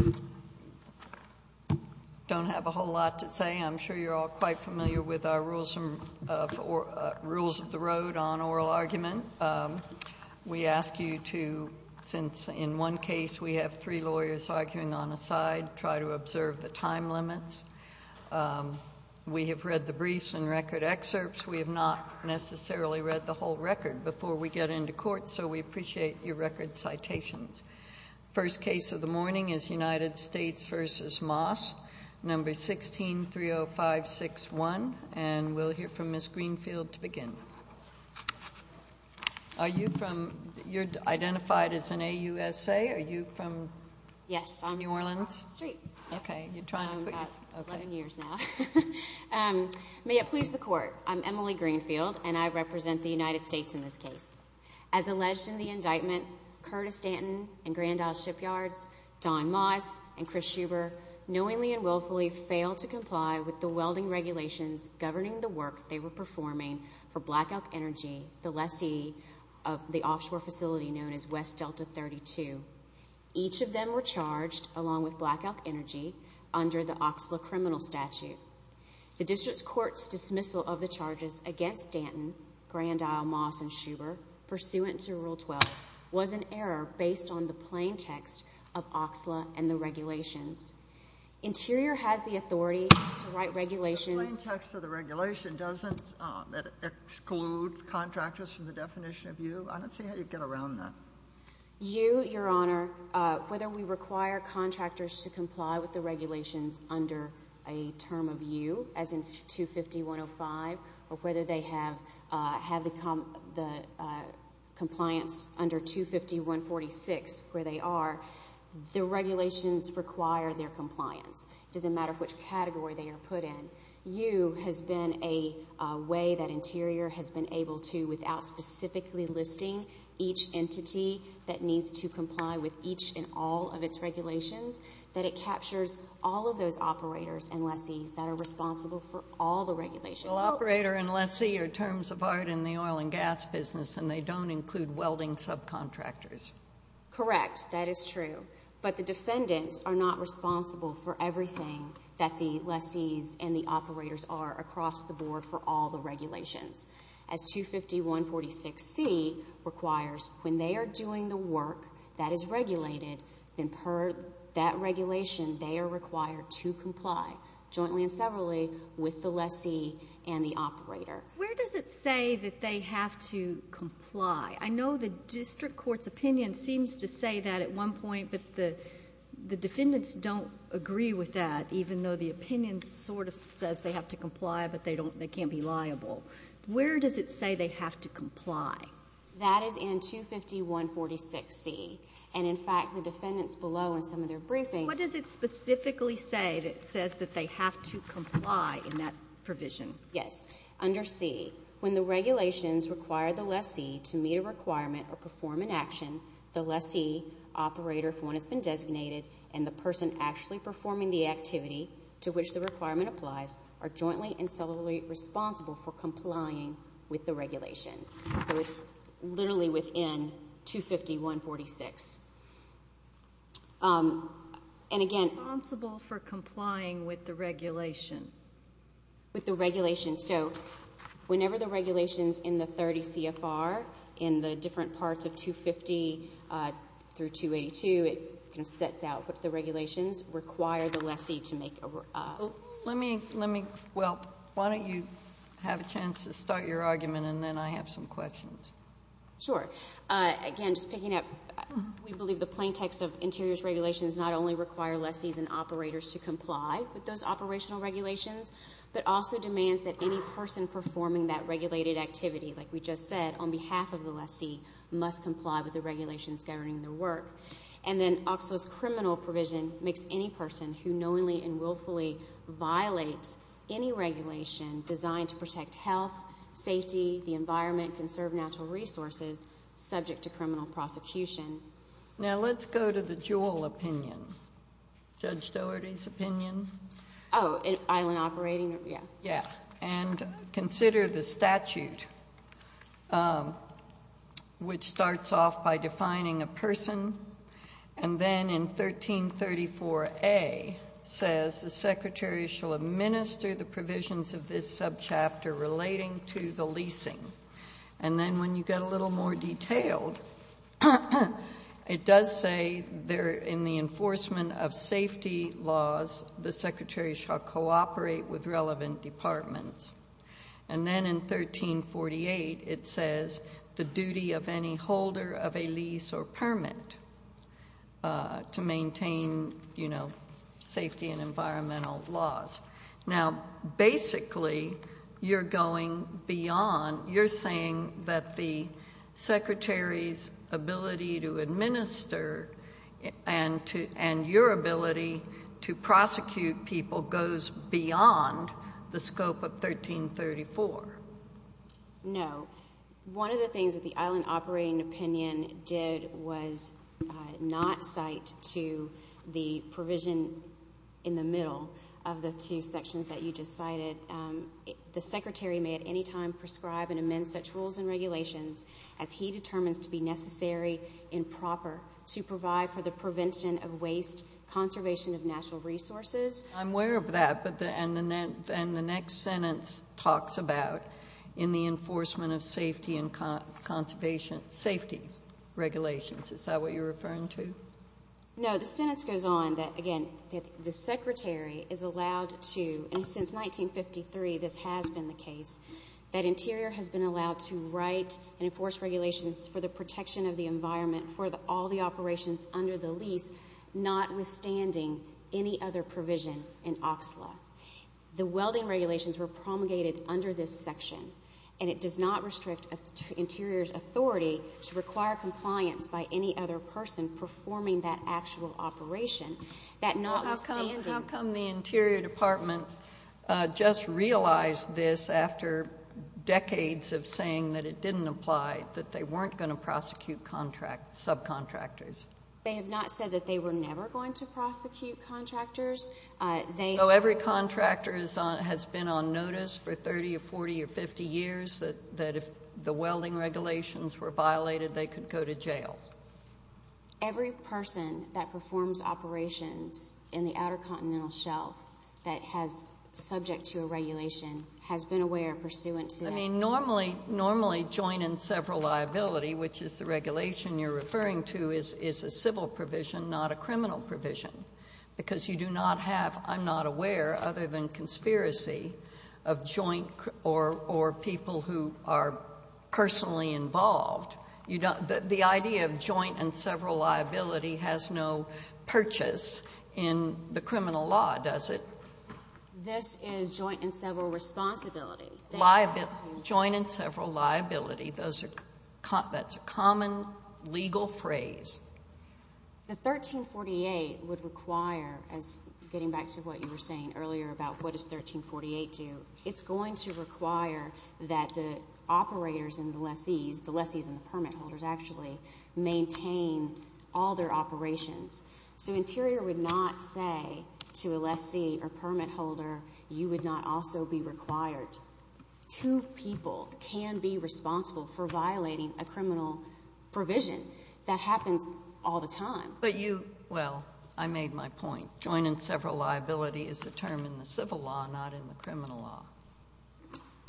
I don't have a whole lot to say. I'm sure you're all quite familiar with our rules of the road on oral argument. We ask you to, since in one case we have three lawyers arguing on a side, try to observe the time limits. We have read the briefs and record excerpts. We have not necessarily read the whole record before we get into court, so we appreciate your record citations. First case of the morning is United States v. Moss, No. 16-30561, and we'll hear from Ms. Greenfield to begin. You're identified as an AUSA. Are you from New Orleans? Yes, off the street. I'm 11 years now. May it please the Court, I'm Emily Greenfield, and I represent the United States in this case. As alleged in the indictment, Curtis Danton and Grand Isle Shipyards, Don Moss, and Chris Schuber, knowingly and willfully failed to comply with the welding regulations governing the work they were performing for Black Elk Energy, the lessee of the offshore facility known as West Delta 32. Each of them were charged, along with Black Elk Energy, under the Oxley Criminal Statute. The District Court's dismissal of the charges against Danton, Grand Isle, Moss, and Schuber pursuant to Rule 12 was an error based on the plain text of Oxley and the regulations. Interior has the authority to write regulations. The plain text of the regulation doesn't exclude contractors from the definition of you? I don't see how you'd get around that. You, Your Honor, whether we require contractors to comply with the regulations under a term of you, as in 250.105, or whether they have the compliance under 250.146, where they are, the regulations require their compliance. It doesn't matter which category they are put in. You has been a way that Interior has been able to, without specifically listing each entity that needs to comply with each and all of its regulations, that it captures all of those operators and lessees that are responsible for all the regulations. Well, operator and lessee are terms of art in the oil and gas business, and they don't include welding subcontractors. Correct. That is true. But the defendants are not responsible for everything that the lessees and the operators are across the board for all the regulations. As 250.146c requires, when they are doing the work that is regulated, then per that regulation, they are required to comply jointly and severally with the lessee and the operator. Where does it say that they have to comply? I know the district court's opinion seems to say that at one point, but the defendants don't agree with that, even though the opinion sort of says they have to comply, but they can't be liable. Where does it say they have to comply? That is in 250.146c, and in fact, the defendants below in some of their briefings... What does it specifically say that says that they have to comply in that provision? Yes. Under c, when the regulations require the lessee to meet a requirement or perform an action, the lessee, operator, if one has been designated, and the person actually performing the activity to which the requirement applies are jointly and severally responsible for complying with the regulation. So it's literally within 250.146. And again... Responsible for complying with the regulation. With the regulation. So whenever the regulations in the 30 CFR, in the different parts of 250 through 282, it sets out what the regulations require the lessee to make a... Let me, well, why don't you have a chance to start your argument, and then I have some questions. Sure. Again, just picking up, we believe the plain text of Interior's regulations not only require lessees and operators to comply with those operational regulations, but also demands that any person performing that regulated activity, like we just said, on behalf of the lessee, must comply with the regulations governing their work. And then OCSLA's criminal provision makes any person who knowingly and in the environment conserve natural resources subject to criminal prosecution. Now let's go to the Jewell opinion. Judge Doherty's opinion. Oh, island operating? Yeah. And consider the statute, which starts off by defining a person, and then in 1334A says the secretary shall administer the provisions of this subchapter relating to the leasing. And then when you get a little more detailed, it does say there in the enforcement of safety laws the secretary shall cooperate with relevant departments. And then in 1348 it says the duty of any holder of a lease or permit to maintain, you know, safety and environmental laws. Now, basically, you're going beyond. You're saying that the secretary's ability to administer and your ability to prosecute people goes beyond the scope of 1334. No. One of the things that the island operating opinion did was not cite to the provision in the middle of the two sections that you just cited. The secretary may at any time prescribe and amend such rules and regulations as he determines to be necessary and proper to provide for the prevention of waste, conservation of natural resources. I'm aware of that. And the next sentence talks about in the enforcement of safety and conservation safety regulations. Is that what you're referring to? No. The sentence goes on that, again, the secretary is allowed to, and since 1953 this has been the case, that Interior has been allowed to write and enforce regulations for the protection of the environment for all the operations under the lease, notwithstanding any other provision in OXLA. The welding regulations were promulgated under this section, and it does not restrict Interior's authority to require compliance by any other person performing that actual operation, that notwithstanding How come the Interior Department just realized this after decades of saying that it didn't apply, that they weren't going to prosecute subcontractors? They have not said that they were never going to prosecute contractors. So every contractor has been on notice for 30 or 40 or 50 years that if the welding regulations were violated they could go to jail? Every person that performs operations in the Outer Continental Shelf that is subject to a regulation has been aware pursuant to that. I mean, normally join in several liability, which is the regulation you're referring to is a civil provision, not a criminal provision, because you do not have, I'm not aware, other than conspiracy of joint or people who are personally involved, the idea of joint and several liability has no purchase in the criminal law, does it? This is joint and several responsibility. Joint and several liability, that's a common legal phrase. The 1348 would require, getting back to what you were saying earlier about what does 1348 do, it's going to require that the operators and the lessees, the lessees and the permit holders actually, maintain all their operations. So Interior would not say to a lessee or permit holder, you're required. Two people can be responsible for violating a criminal provision. That happens all the time. But you, well, I made my point. Joint and several liability is the term in the civil law, not in the criminal law.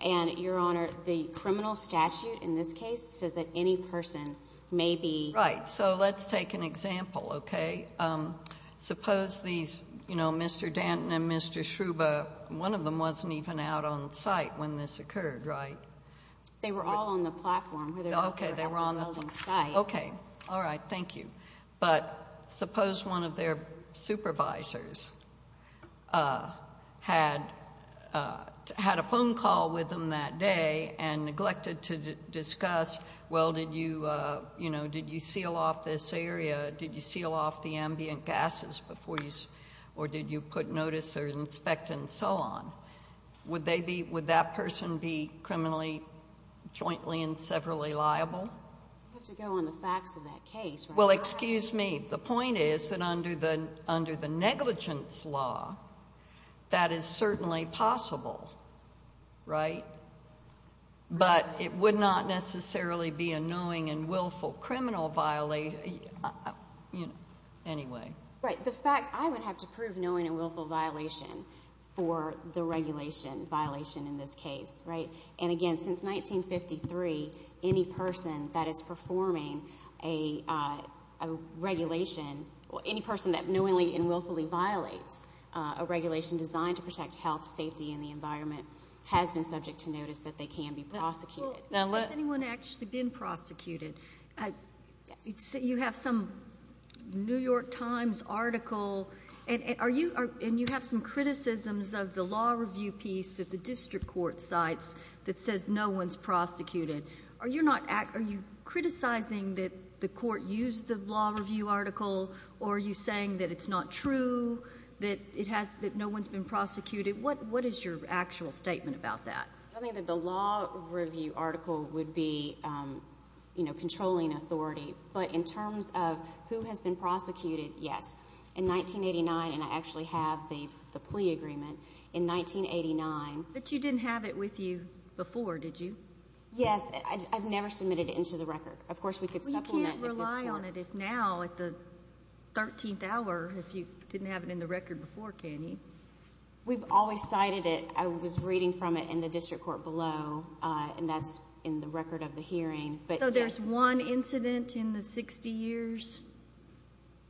And Your Honor, the criminal statute in this case says that any person may be Right. So let's take an example, okay? Suppose these, you know, Mr. Danton and Mr. Schruber, one of them wasn't even out on site when this occurred, right? They were all on the platform. Okay, they were on the site. Okay, all right, thank you. But suppose one of their supervisors had a phone call with them that day and neglected to discuss, well, did you, you know, did you seal off this area? Did you seal off the ambient gases before you, or did you put notice or inspect and so on? Would they be, would that person be criminally, jointly and severally liable? I'd have to go on the facts of that case. Well, excuse me. The point is that under the, under the negligence law, that is certainly possible, right? But it would not necessarily be a knowing and willful criminal violation, you know, anyway. Right, the fact, I would have to prove knowing and willful violation for the regulation violation in this case, right? And again, since 1953, any person that is performing a regulation, any person that knowingly and willfully violates a regulation designed to protect health, safety and the environment has been subject to notice that they can be prosecuted. Has anyone actually been prosecuted? You have some New York Times article and are you, and you have some criticisms of the law review piece that the district court cites that says no one's prosecuted. Are you not, are you criticizing that the court used the law review article or are you saying that it's not true, that it has, that no one's been prosecuted? What is your actual statement about that? I think that the law review article would be, you know, controlling authority, but in terms of who has been prosecuted, yes. In 1989, and I actually have the plea agreement, in 1989. But you didn't have it with you before, did you? Yes, I've never submitted it into the record. Of course, we could supplement with this course. We can't rely on it now at the 13th hour if you didn't have it in the record before, can you? We've always cited it. I was reading from it in the district court below, and that's in the record of the hearing, but yes. So there's one incident in the 60 years?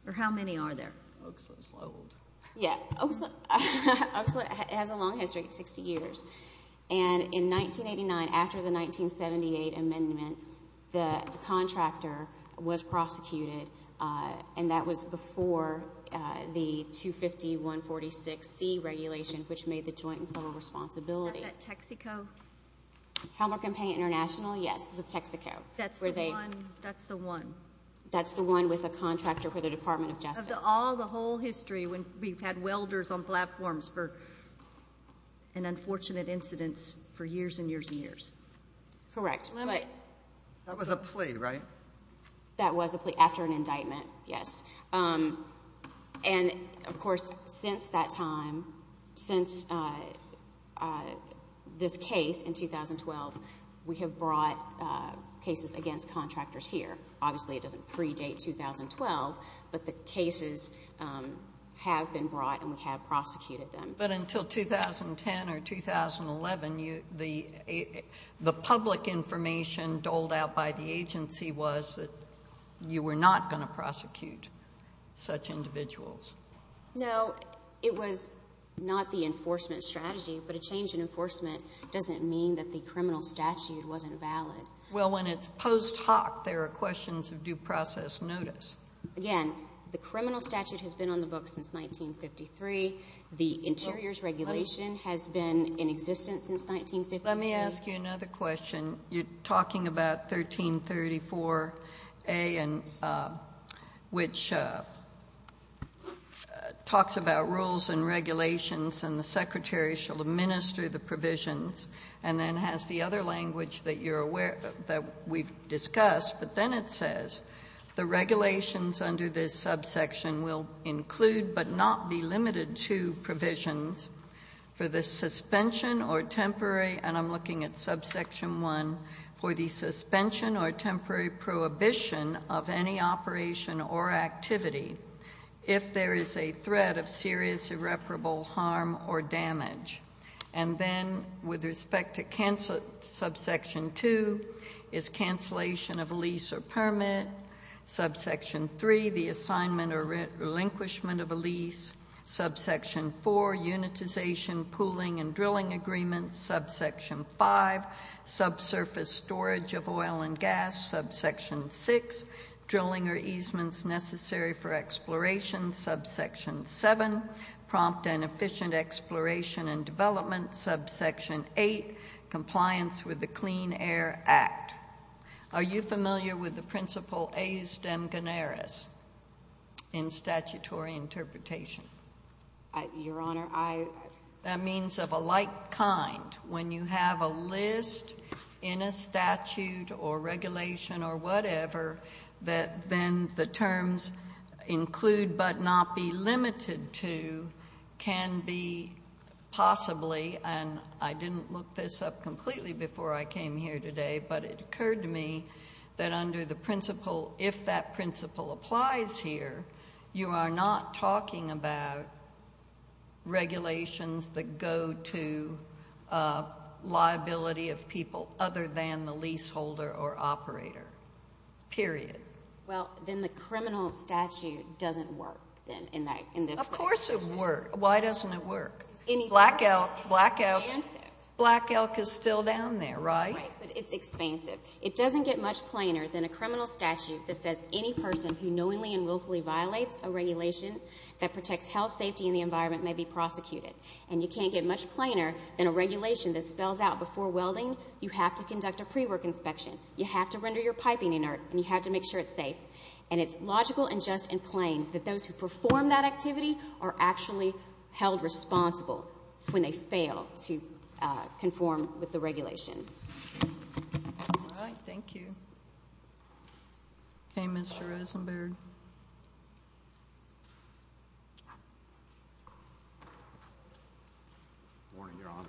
Or how many are there? Yeah, Oakslip has a long history, 60 years. And in 1989, after the 1978 amendment, the C-regulation, which made the joint and solid responsibility. Is that Texaco? Helmer Campaign International, yes, with Texaco. That's the one. That's the one with the contractor for the Department of Justice. Of all the whole history, when we've had welders on platforms for an unfortunate incidence for years and years and years. Correct. That was a plea, right? That was a plea after an indictment, yes. And, of course, since that time, since this case in 2012, we have brought cases against contractors here. Obviously, it doesn't predate 2012, but the cases have been brought and we have prosecuted them. But until 2010 or 2011, the public information doled out by the agency was that you were not going to prosecute such individuals. No, it was not the enforcement strategy, but a change in enforcement doesn't mean that the criminal statute wasn't valid. Well, when it's post hoc, there are questions of due process notice. Again, the criminal statute has been on the books since 1953. The interiors regulation has been in existence since 1953. Let me ask you another question. You're talking about 1334A, which talks about rules and regulations and the secretary shall administer the provisions and then has the other language that we've got here that says, the regulations under this subsection will include but not be limited to provisions for the suspension or temporary, and I'm looking at subsection one, for the suspension or temporary prohibition of any operation or activity if there is a threat of serious irreparable harm or damage. And then, with respect to subsection two, is cancellation of lease or permit. Subsection three, the assignment or relinquishment of a lease. Subsection four, unitization, pooling and drilling agreements. Subsection five, subsurface storage of oil and gas. Subsection six, drilling or easements necessary for exploration. Subsection seven, prompt and efficient exploration and development. Subsection eight, compliance with the Clean Air Act. Are you familiar with the principle Aes Deme Ganaris in statutory interpretation? Your Honor, I... That means of a like kind, when you have a list in a statute or regulation or whatever that then the terms include but not be limited to can be possibly, and I didn't look this up completely before I came here today, but it occurred to me that under the principle, if that principle applies here, you are not talking about regulations that go to liability of people other than the leaseholder or operator, period. Well, then the criminal statute doesn't work then in that, in this case. Of course it works. Why doesn't it work? Black Elk, Black Elk, Black Elk is still down there, right? Right, but it's expansive. It doesn't get much plainer than a criminal statute that says any person who knowingly and willfully violates a regulation that protects health, safety and the environment may be prosecuted. And you can't get much plainer than a regulation that spells out before welding, you have to conduct a pre-work inspection, you have to render your piping inert, and you have to make sure it's safe. And it's logical and just and plain that those who perform that activity are actually held responsible when they fail to conform with the regulation. All right, thank you. Okay, Mr. Rosenberg. Good morning, Your Honor.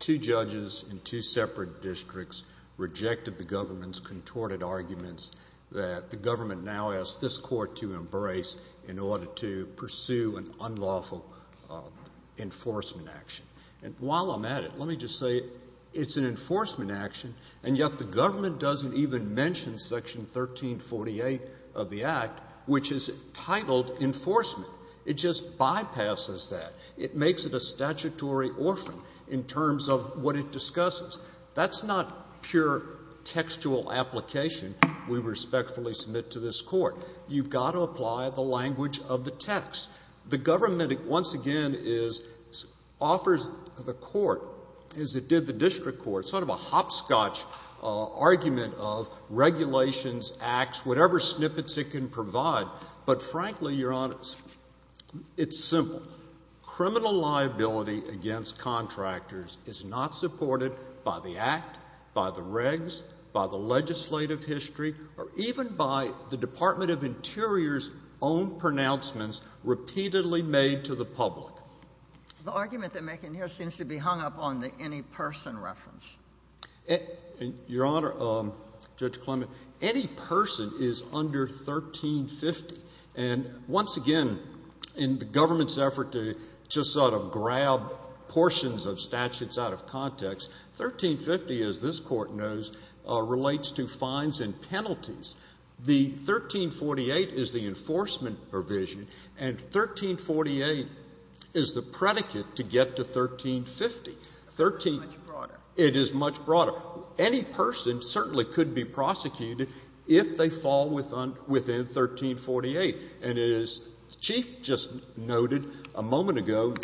Two judges in two separate districts rejected the government's contorted arguments that the government now has this court to embrace in order to pursue an unlawful enforcement action. And while I'm at it, let me just say it's an enforcement action, and yet the government doesn't even mention Section 1348 of the Act, which is titled enforcement. It just bypasses that. It makes it a statutory orphan in terms of what it discusses. That's not pure textual application we respectfully submit to this Court. You've got to apply the language of the text. The government, once again, offers the Court, as it did the District Court, sort of a hopscotch argument of regulations, acts, whatever snippets it can provide. But frankly, Your Honor, it's simple. Criminal liability against contractors is not supported by the Act, by the regs, by the legislative history, or even by the Department of Interior's own pronouncements repeatedly made to the public. The argument they're making here seems to be hung up on the any person reference. Your Honor, Judge Clement, any person is under 1350. And once again, in the government's effort to just sort of grab portions of statutes out of context, 1350, as this Court knows, relates to fines and penalties. The 1348 is the enforcement provision, and 1348 is the predicate to get to 1350. It is much broader. Any person certainly could be prosecuted if they fall within 1348. And as the Chief just noted a moment ago,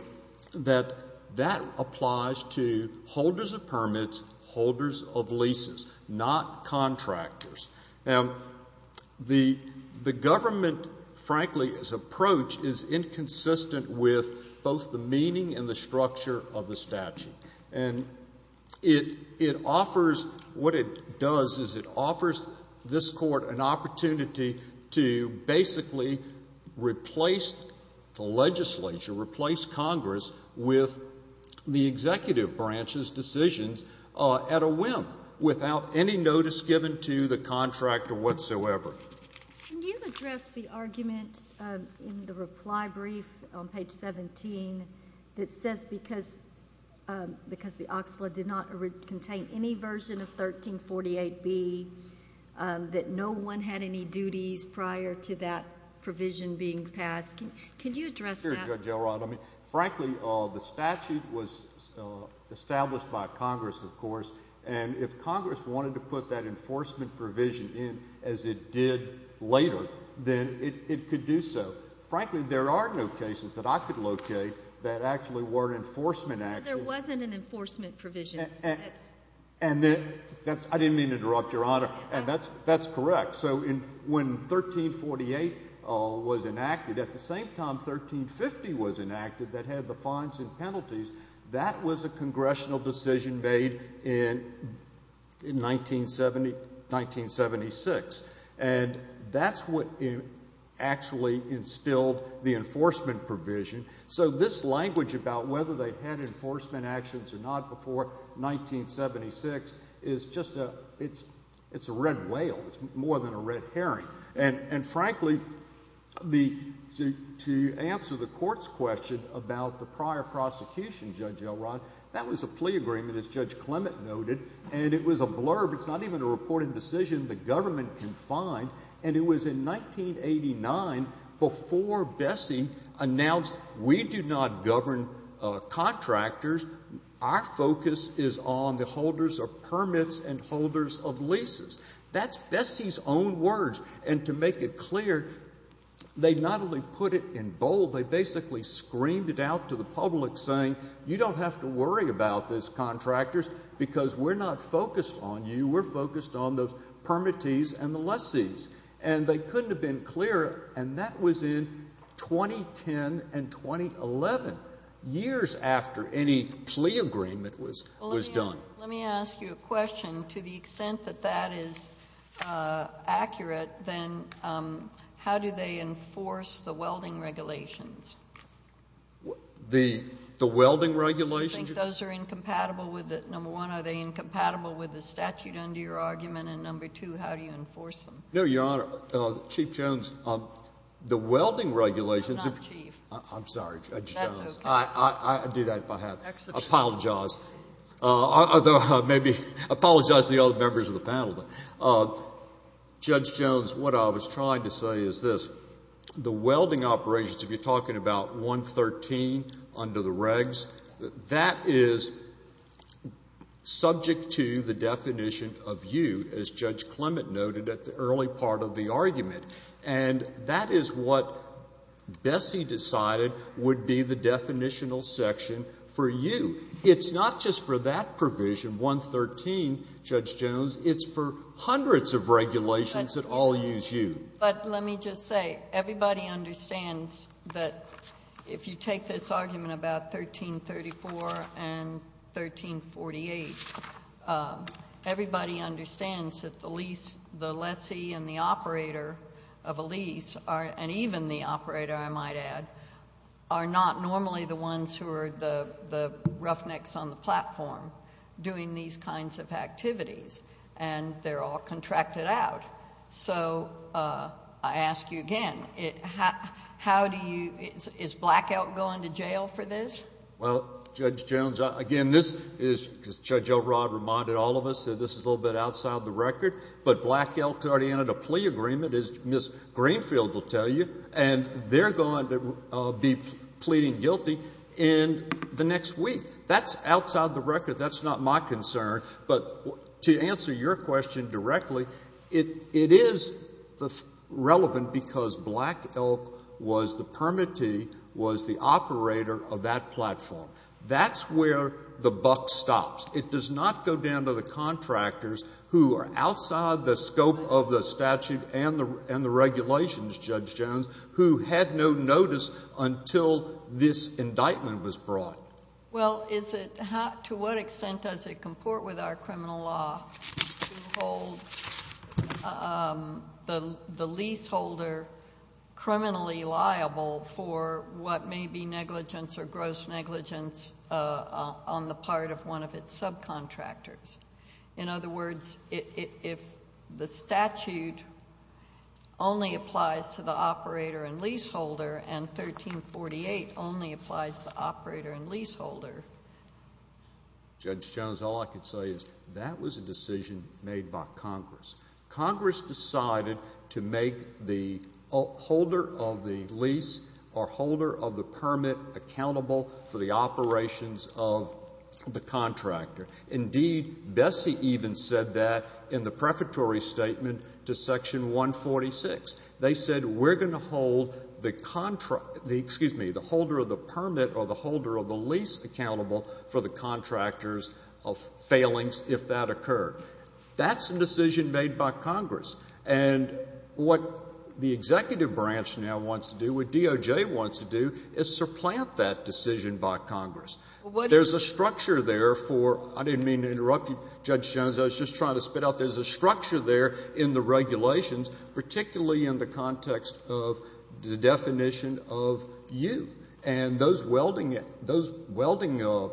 that that applies to holders of permits, holders of leases, not contractors. Now, the government, frankly, its approach is inconsistent with both the meaning and the structure of the statute. And it offers what it does is it offers this Court an opportunity to basically replace the legislature, replace Congress with the executive branch's decisions at a whim, without any notice given to the legislature. Your Honor, there is a reply brief on page 17 that says, because the Oxlade did not contain any version of 1348B, that no one had any duties prior to that provision being passed. Can you address that? Sure, Judge Elrod. I mean, frankly, the statute was established by Congress, of course, and if Congress wanted to put that enforcement provision in as it did later, then it could do so. Frankly, there are no cases that I could locate that actually weren't enforcement actions. There wasn't an enforcement provision. And that's, I didn't mean to interrupt, Your Honor, and that's correct. So when 1348 was enacted, at the same time 1350 was enacted, that had the fines and penalties, that was a Congressional decision made in 1976. And that's what actually, I mean, that's what actually instilled the enforcement provision. So this language about whether they had enforcement actions or not before 1976 is just a, it's a red whale. It's more than a red herring. And frankly, to answer the Court's question about the prior prosecution, Judge Elrod, that was a plea agreement, as Judge Clement noted, and it was a blurb. It's not even a reporting decision the government can find. And it was in 1989, before Bessie announced, we do not govern contractors, our focus is on the holders of permits and holders of leases. That's Bessie's own words. And to make it clear, they not only put it in bold, they basically screamed it out to the public, saying, you don't have to worry about this, contractors, because we're not focused on you, we're focused on the permittees and the lessees. And they couldn't have been clearer. And that was in 2010 and 2011, years after any plea agreement was done. Well, let me ask you a question. To the extent that that is accurate, then how do they enforce the welding regulations? The welding regulations? I think those are incompatible with, number one, are they incompatible with the statute under your argument? And number two, how do you enforce them? No, Your Honor, Chief Jones, the welding regulations... I'm not chief. I'm sorry, Judge Jones. That's okay. I'd do that if I had it. I apologize. I apologize to the other members of the panel. Judge Jones, what I was trying to say is this. The welding operations, if you're talking about 113 under the regs, that is subject to the definition of you, as Judge Clement noted at the early part of the argument. And that is what Bessie decided would be the definitional section for you. It's not just for that provision, 113, Judge Jones, it's for hundreds of regulations that all use you. But let me just say, everybody understands that if you take this argument about 1334 and 1348, everybody understands that the lessee and the operator of a lease, and even the operator, I might add, are not normally the ones who are the roughnecks on the platform doing these kinds of activities. And they're all contracted out. So I ask you again, is Black Elk going to jail for this? Well, Judge Jones, again, this is, as Judge Elrod reminded all of us, this is a little bit outside the record, but Black Elk's already entered a plea agreement, as Ms. Greenfield will tell you, and they're going to be pleading guilty in the next week. That's outside the record. That's not my concern. But to answer your question directly, it is relevant because Black Elk was the permittee, was the operator of that platform. That's where the buck stops. It does not go down to the contractors who are outside the scope of the statute and the regulations, Judge Jones, who had no notice until this indictment was brought. Well, to what extent does it comport with our criminal law to hold the leaseholder criminally liable for what may be negligence or gross negligence on the part of one of its subcontractors? In other words, if the statute only applies to the operator and leaseholder and 1348 only applies to the operator and leaseholder. Judge Jones, all I can say is that was a decision made by Congress. Congress decided to make the holder of the lease or holder of the permit accountable for the operations of the contractor. Indeed, Bessie even said that in the prefatory statement to Section 146. They said, we're going to hold the, excuse me, the holder of the permit or the holder of the lease accountable for the contractor's failings if that occurred. That's a decision made by Congress. And what the executive branch now wants to do, what DOJ wants to do, is supplant that decision by Congress. There's a structure there for, I didn't mean to interrupt you, Judge Jones, I was just trying to spit out, there's a structure there in the regulations, particularly in the context of the definition of U. And those welding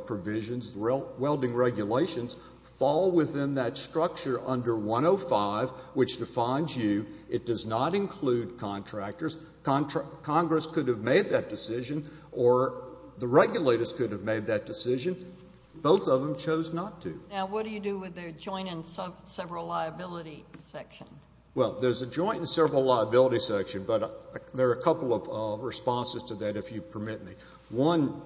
provisions, welding regulations, fall within that structure under 105, which defines U. It does not include contractors. Congress could have made that decision or the regulators could have made that decision. Both of them chose not to. Now, what do you do with the joint and several liability section? Well, there's a joint and several liability section, but there are a couple of responses to that, if you permit me. One,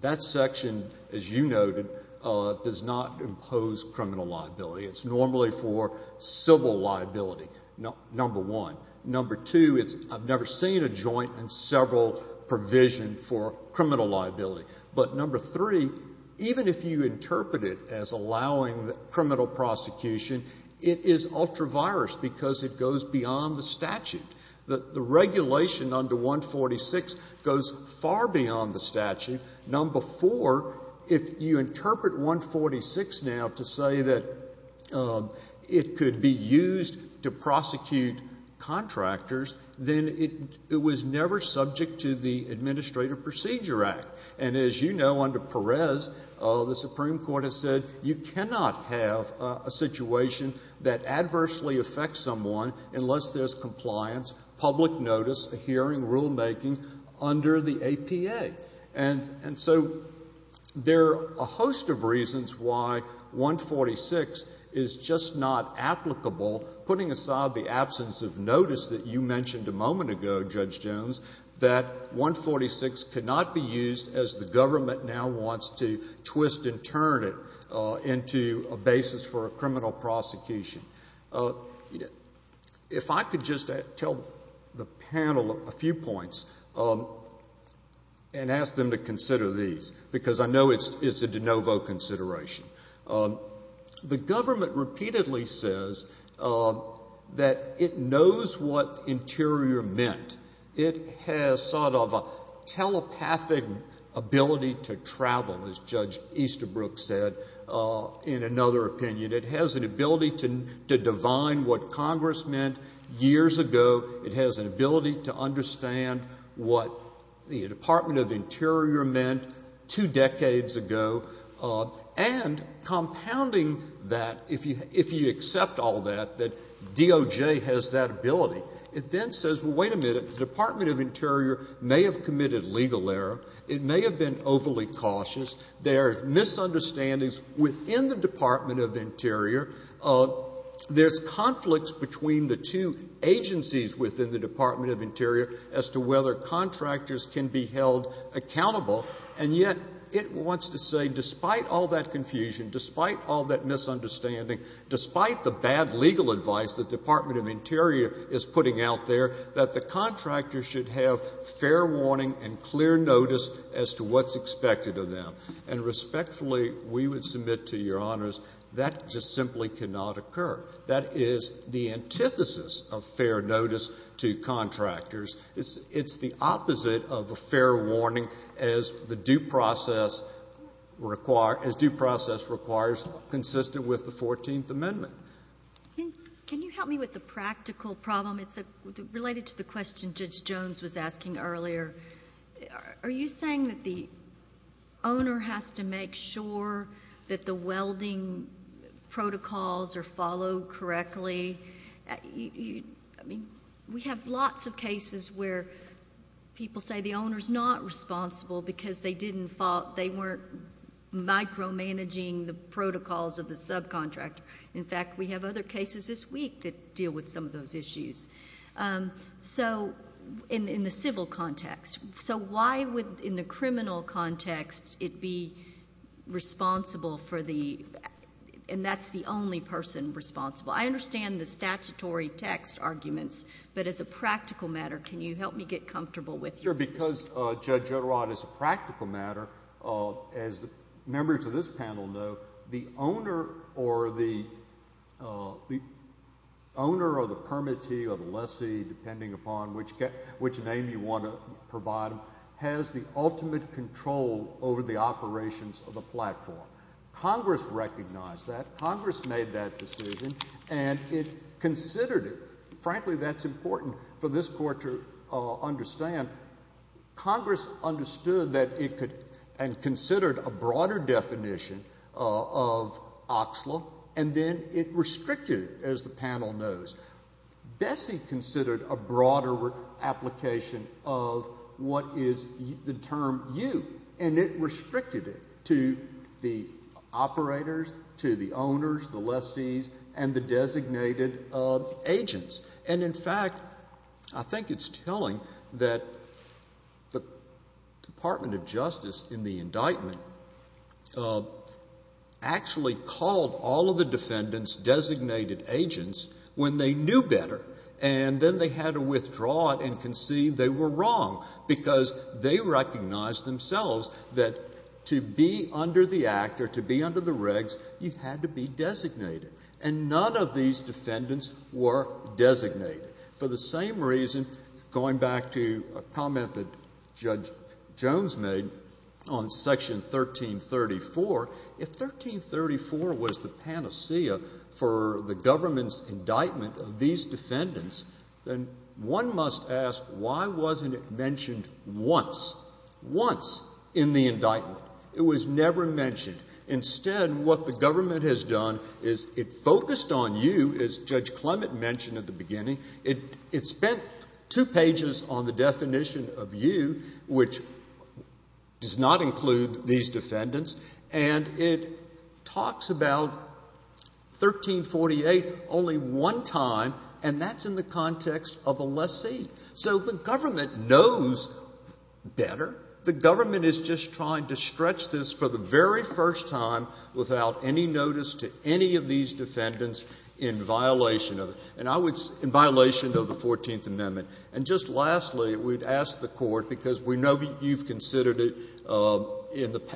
that section, as you noted, does not impose criminal liability. It's normally for civil liability, number one. Number two, I've never seen a joint and several provision for criminal liability. But number three, even if you interpret it as allowing criminal prosecution, it is ultra-virus because it goes beyond the statute. The regulation under 146 goes far beyond the statute. Number four, if you interpret 146 now to say that it could be used to prosecute contractors, then it was never subject to the Administrative Procedure Act. And as you know, under Perez, the Supreme Court has said you cannot have a situation that adversely affects someone unless there's compliance, public notice, a hearing, rulemaking under the APA. And so there are a host of reasons why 146 is just not applicable, putting aside the absence of notice that you mentioned a moment ago, Judge Jones, that 146 cannot be used as the government now wants to twist and turn it into a basis for a criminal prosecution. If I could just tell the panel a few points and ask them to consider these, because I know it's a de novo consideration. The government repeatedly says that it knows what interior meant. It has sort of a telepathic ability to travel, as Judge Easterbrook said, in another opinion. It has an ability to divine what Congress meant years ago. It has an ability to understand what the Department of Interior meant two decades ago. And compounding that, if you accept all that, that DOJ has that ability, it then says, well, wait a minute, the Department of Interior may have committed legal error. It may have been overly cautious. There are misunderstandings within the Department of Interior. There's conflicts between the two agencies within the Department of Interior as to whether contractors can be held accountable. And yet, it wants to say, despite all that confusion, despite all that misunderstanding, despite the bad legal advice the Department of Interior is putting out there, that the contractors should have fair warning and clear notice as to what's expected of them. And respectfully, we would submit to Your Honors, that just simply cannot occur. That is the antithesis of fair notice to contractors. It's the opposite of a fair warning as to the due process require, as due process requires, consistent with the 14th Amendment. Can you help me with the practical problem? It's related to the question Judge Jones was asking earlier. Are you saying that the owner has to make sure that the welding protocols are followed correctly? I mean, we have lots of cases where people say the owner's not responsible because they weren't micromanaging the protocols of the subcontractor. In fact, we have other cases this week that deal with some of those issues. So, in the civil context, so why would, in the criminal context, it be responsible for the, and that's the only person responsible? I understand the statutory text arguments, but as a practical matter, can you help me get comfortable with your position? Sure, because, Judge Girod, as a practical matter, as members of this panel know, the owner or the, the owner or the permittee or the lessee, depending upon which name you want to provide them, has the ultimate control over the operations of the platform. Congress recognized that. Congress made that decision, and it considered it. Frankly, that's important for this Court to understand. Congress understood that it could, and considered a broader definition of OXLA, and then it restricted it, as the panel knows. Bessie considered a broader application of what is the term U, and it restricted it to the operators, to the owners, the lessees, and the designated agents. And, in fact, I think it's telling that the Department of Justice, in the indictment, actually called all of the defendants designated agents when they knew better, and then they had to withdraw it and concede they were wrong, because they recognized themselves that to be under the act or to be under the regs, you had to be designated. And none of these defendants were designated. For the same reason, going back to a comment that Judge Jones made on Section 1334, if 1334 was the panacea for the government's indictment of these defendants, then one must ask, why wasn't it mentioned once, once, in the indictment? It was never mentioned. Instead, what the government has done is it focused on U, as Judge Clement mentioned at the beginning. It spent two pages on the definition of U, which does not include these defendants, and it talks about 1348 only one time, and that's in the context of a lessee. And it talks about 1348. So the government knows better. The government is just trying to stretch this for the very first time without any notice to any of these defendants in violation of the Fourteenth Amendment. And just lastly, we'd ask the Court, because we know you've considered it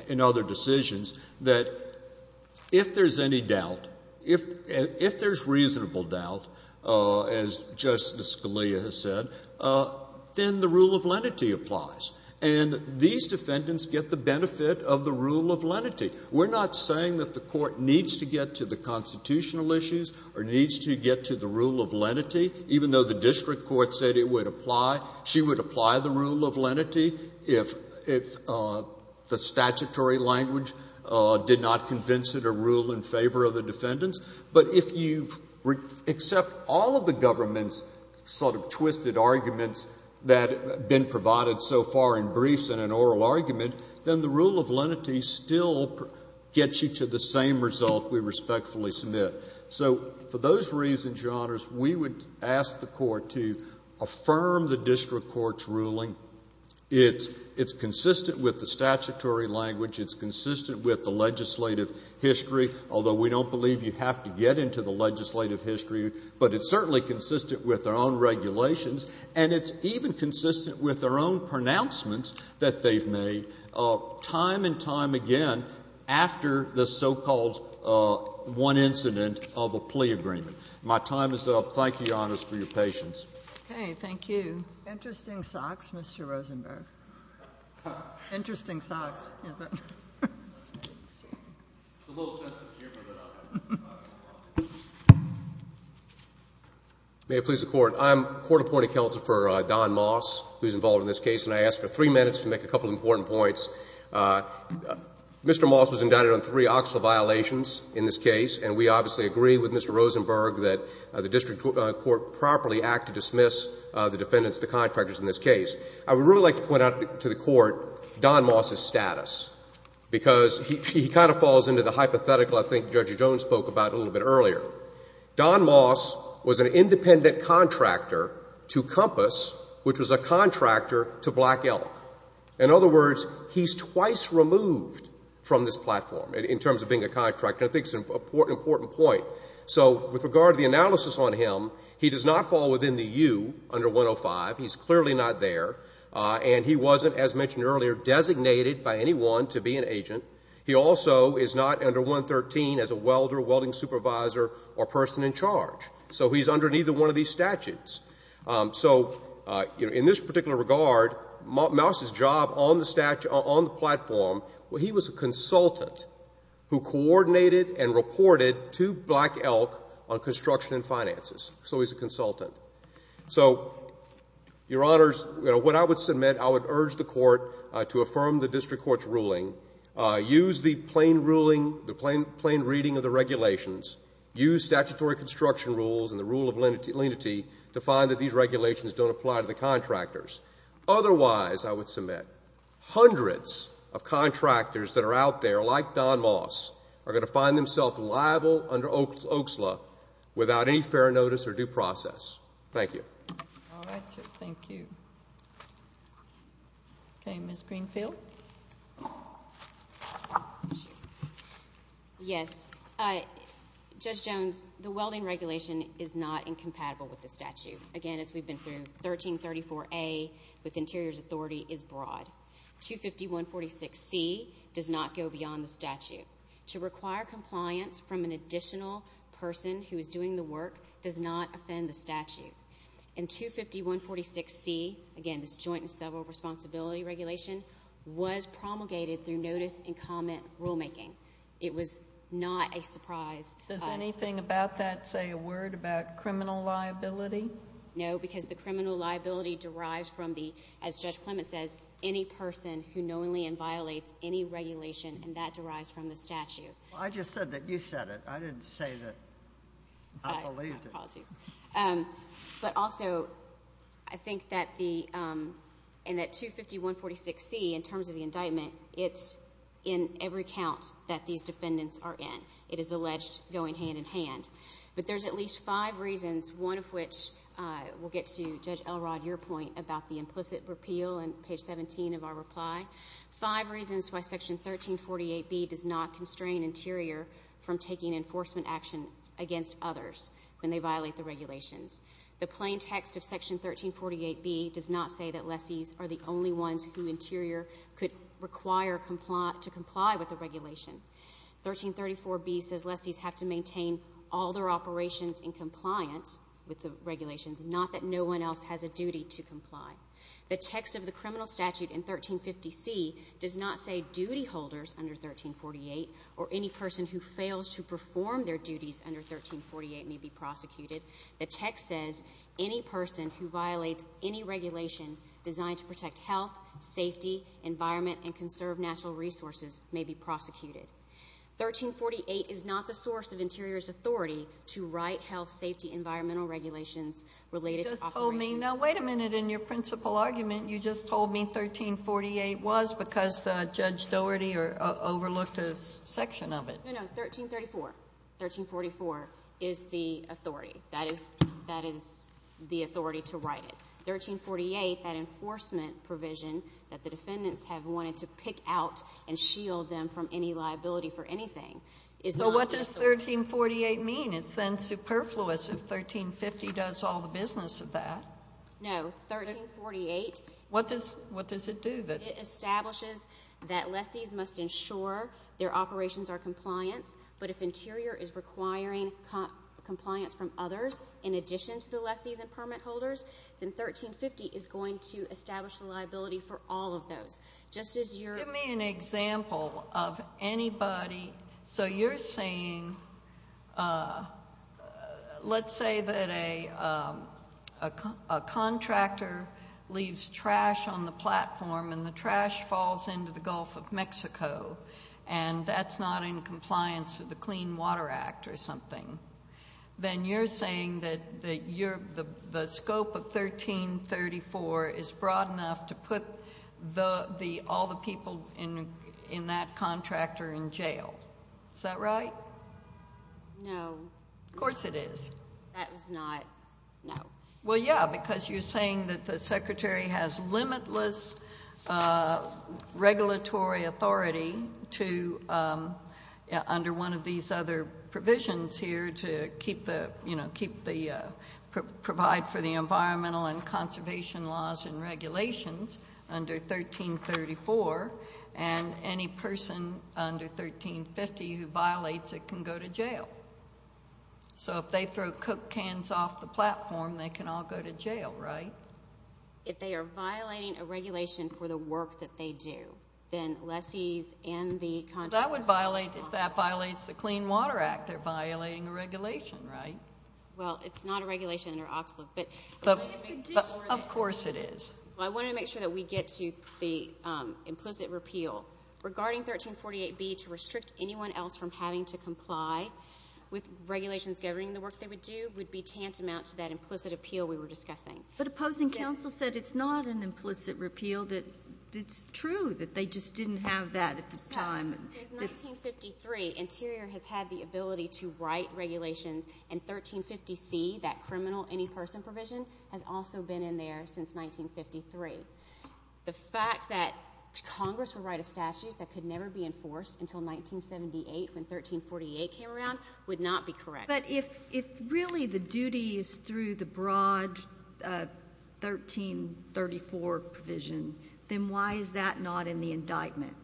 in other decisions, that if there's any doubt, if there's reasonable doubt, as Justice Scalia has said, then the rule of lenity applies. And these defendants get the benefit of the rule of lenity. We're not saying that the Court needs to get to the constitutional issues or needs to get to the rule of lenity, even though the district court said it would apply, she would apply the rule of lenity if the statutory language did not accept all of the government's sort of twisted arguments that have been provided so far in briefs in an oral argument, then the rule of lenity still gets you to the same result we respectfully submit. So for those reasons, Your Honors, we would ask the Court to affirm the district court's ruling. It's consistent with the statutory language. It's consistent with the legislative history, although we don't believe you have to get into the legislative history. But it's certainly consistent with their own regulations, and it's even consistent with their own pronouncements that they've made time and time again after the so-called one incident of a plea agreement. My time is up. Thank you, Your Honors, for your patience. Okay. Thank you. Interesting socks, Mr. Rosenberg. Interesting socks. May it please the Court. I'm Court-appointed counsel for Don Moss, who's involved in this case, and I ask for three minutes to make a couple of important points. Mr. Moss was indicted on three actual violations in this case, and we obviously agree with Mr. Rosenberg that the district court properly act to dismiss the defendants, the contractors, in this case. I would really like to point out to the Court Don Moss's status, because he kind of falls into the hypothetical I think Judge Jones spoke about a little bit earlier. Don Moss was an independent contractor to Compass, which was a contractor to Black Elk. In other words, he's twice removed from this platform in terms of being a contractor. I think it's an important point. So with regard to the analysis on him, he does not fall within the 2 under 105. He's clearly not there, and he wasn't, as mentioned earlier, designated by anyone to be an agent. He also is not under 113 as a welder, welding supervisor, or person in charge. So he's under neither one of these statutes. So in this particular regard, Moss's job on the platform, well, he was a consultant who coordinated and reported to Black Elk on construction and finances. So he's a consultant. So, Your Honors, what I would submit, I would urge the Court to affirm the district court's ruling, use the plain reading of the regulations, use statutory construction rules and the rule of lenity to find that these regulations don't apply to the contractors. Otherwise, I would submit, hundreds of contractors that are out there, like Don Moss, are going to find themselves liable under OAKSLA without any fair notice or due process. Thank you. All right. Thank you. Okay. Ms. Greenfield? Yes. Judge Jones, the welding regulation is not incompatible with the statute. Again, as we've been through, section 1334A with Interior's authority is broad. 25146C does not go beyond the statute. To require compliance from an additional person who is doing the work does not offend the statute. And 25146C, again, this joint and several responsibility regulation, was promulgated through notice and comment rulemaking. It was not a surprise. Does anything about that say a word about criminal liability? No, because the criminal liability derives from the, as Judge Clement says, any person who knowingly and violates any regulation, and that derives from the statute. I just said that you said it. I didn't say that I believed it. My apologies. But also, I think that the, and that 25146C, in terms of the indictment, it's in every account that these defendants are in. It is alleged going hand in hand. But there's at least five reasons, one of which we'll get to, Judge Elrod, your point about the implicit repeal on page 17 of our reply. Five reasons why section 1348B does not constrain Interior from taking enforcement action against others when they violate the regulations. The plain text of section 1348B does not say that lessees are the only ones who Interior could require to comply with the regulation. 1334B says lessees have to maintain all their operations in compliance with the regulations, not that no one else has a duty to comply. The text of the criminal statute in 1350C does not say duty holders under 1348 or any person who fails to perform their duties under 1348 may be prosecuted. The text says any person who violates any regulation designed to protect health, safety, environment, and conserve natural resources may be prosecuted. 1348 is not the source of Interior's authority to write health, safety, environmental regulations related to operations. You just told me, now wait a minute, in your principal argument, you just told me 1348 was because Judge Dougherty overlooked a section of it. No, no, 1334. 1344 is the authority. That is the authority to write it. 1348, that enforcement provision that the defendants have wanted to pick out and shield them from any liability for anything is not the source. So what does 1348 mean? It's then superfluous if 1350 does all the business of that. No, 1348... What does it do? It establishes that lessees must ensure their operations are compliant, but if Interior is requiring compliance from others in addition to the lessees and permit holders, then 1350 is going to establish the liability for all of those. Just as you're... Give me an example of anybody... So you're saying, let's say that a contractor leaves trash on the platform and the trash falls into the Gulf of Mexico and that's not in compliance with the Clean Water Act or something. Then you're saying that the scope of 1334 is broad enough to put all the people in that contractor in jail. Is that right? No. Of course it is. That is not... No. Well, yeah, because you're saying that the Secretary has limitless regulatory authority to, under one of these other provisions here, to provide for the environmental and conservation laws and regulations under 1334, and any person under 1350 who violates it can go to jail. So if they throw cook cans off the platform, they can all go to jail, right? If they are violating a regulation for the work that they do, then lessees and the contractors... That would violate, if that violates the Clean Water Act, they're violating a regulation, right? Well, it's not a regulation under OXLA, but... Of course it is. I want to make sure that we get to the implicit repeal. Regarding 1348B, to restrict anyone else from having to comply with regulations governing the work they would do would be tantamount to that implicit appeal we were discussing. But opposing counsel said it's not an implicit repeal, that it's true, that they just didn't have that at the time. Since 1953, Interior has had the ability to write regulations in 1350C, that criminal any person provision, has also been in there since 1953. The fact that Congress would write a statute that could never be enforced until 1978, when 1348 came around, would not be correct. But if really the duty is through the broad 1334 provision, then why is that not in the indictment?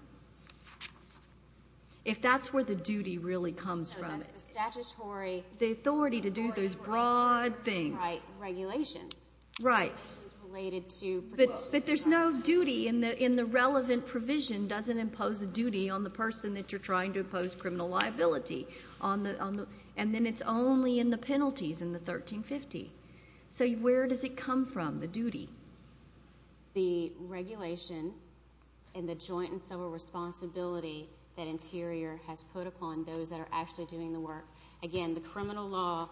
If that's where the duty really comes from? No, that's the statutory... The authority to do those broad things. Right, regulations. Right. Regulations related to... But there's no duty in the relevant provision doesn't impose a duty on the person that you're trying to impose criminal liability on. And then it's only in the penalties in the 1350. So where does it come from, the duty? The regulation and the joint and several responsibility that Interior has put upon those that are actually doing the work. Again, the criminal law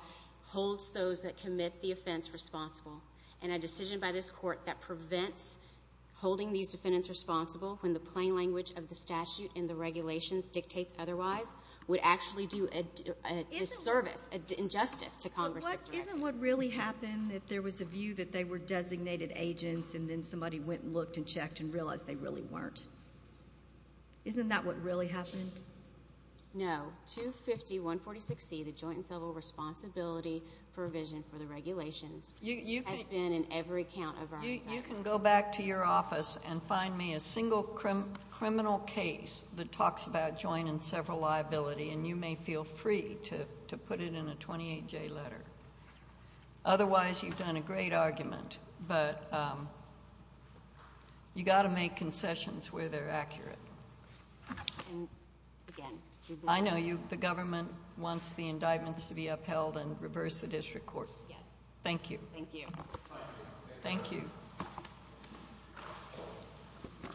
holds those that commit the offense responsible. And a decision by this court that prevents holding these defendants responsible, when the plain language of the statute and the regulations dictates otherwise, would actually do a disservice, an injustice to Congress's directive. But isn't what really happened if there was a view that they were designated agents and then somebody went and looked and checked and realized they really weren't? Isn't that what really happened? No. 250.146C, the joint and several responsibility provision for the regulations... You can... ...has been in every count of our entire... You can go back to your office and find me a single criminal case that talks about joint and several liability and you may feel free to put it in a 28-J letter. Otherwise, you've done a great argument, but you got to make concessions where they're accurate. And again... I know the government wants the indictments to be upheld and reverse the district court. Yes. Thank you. Thank you.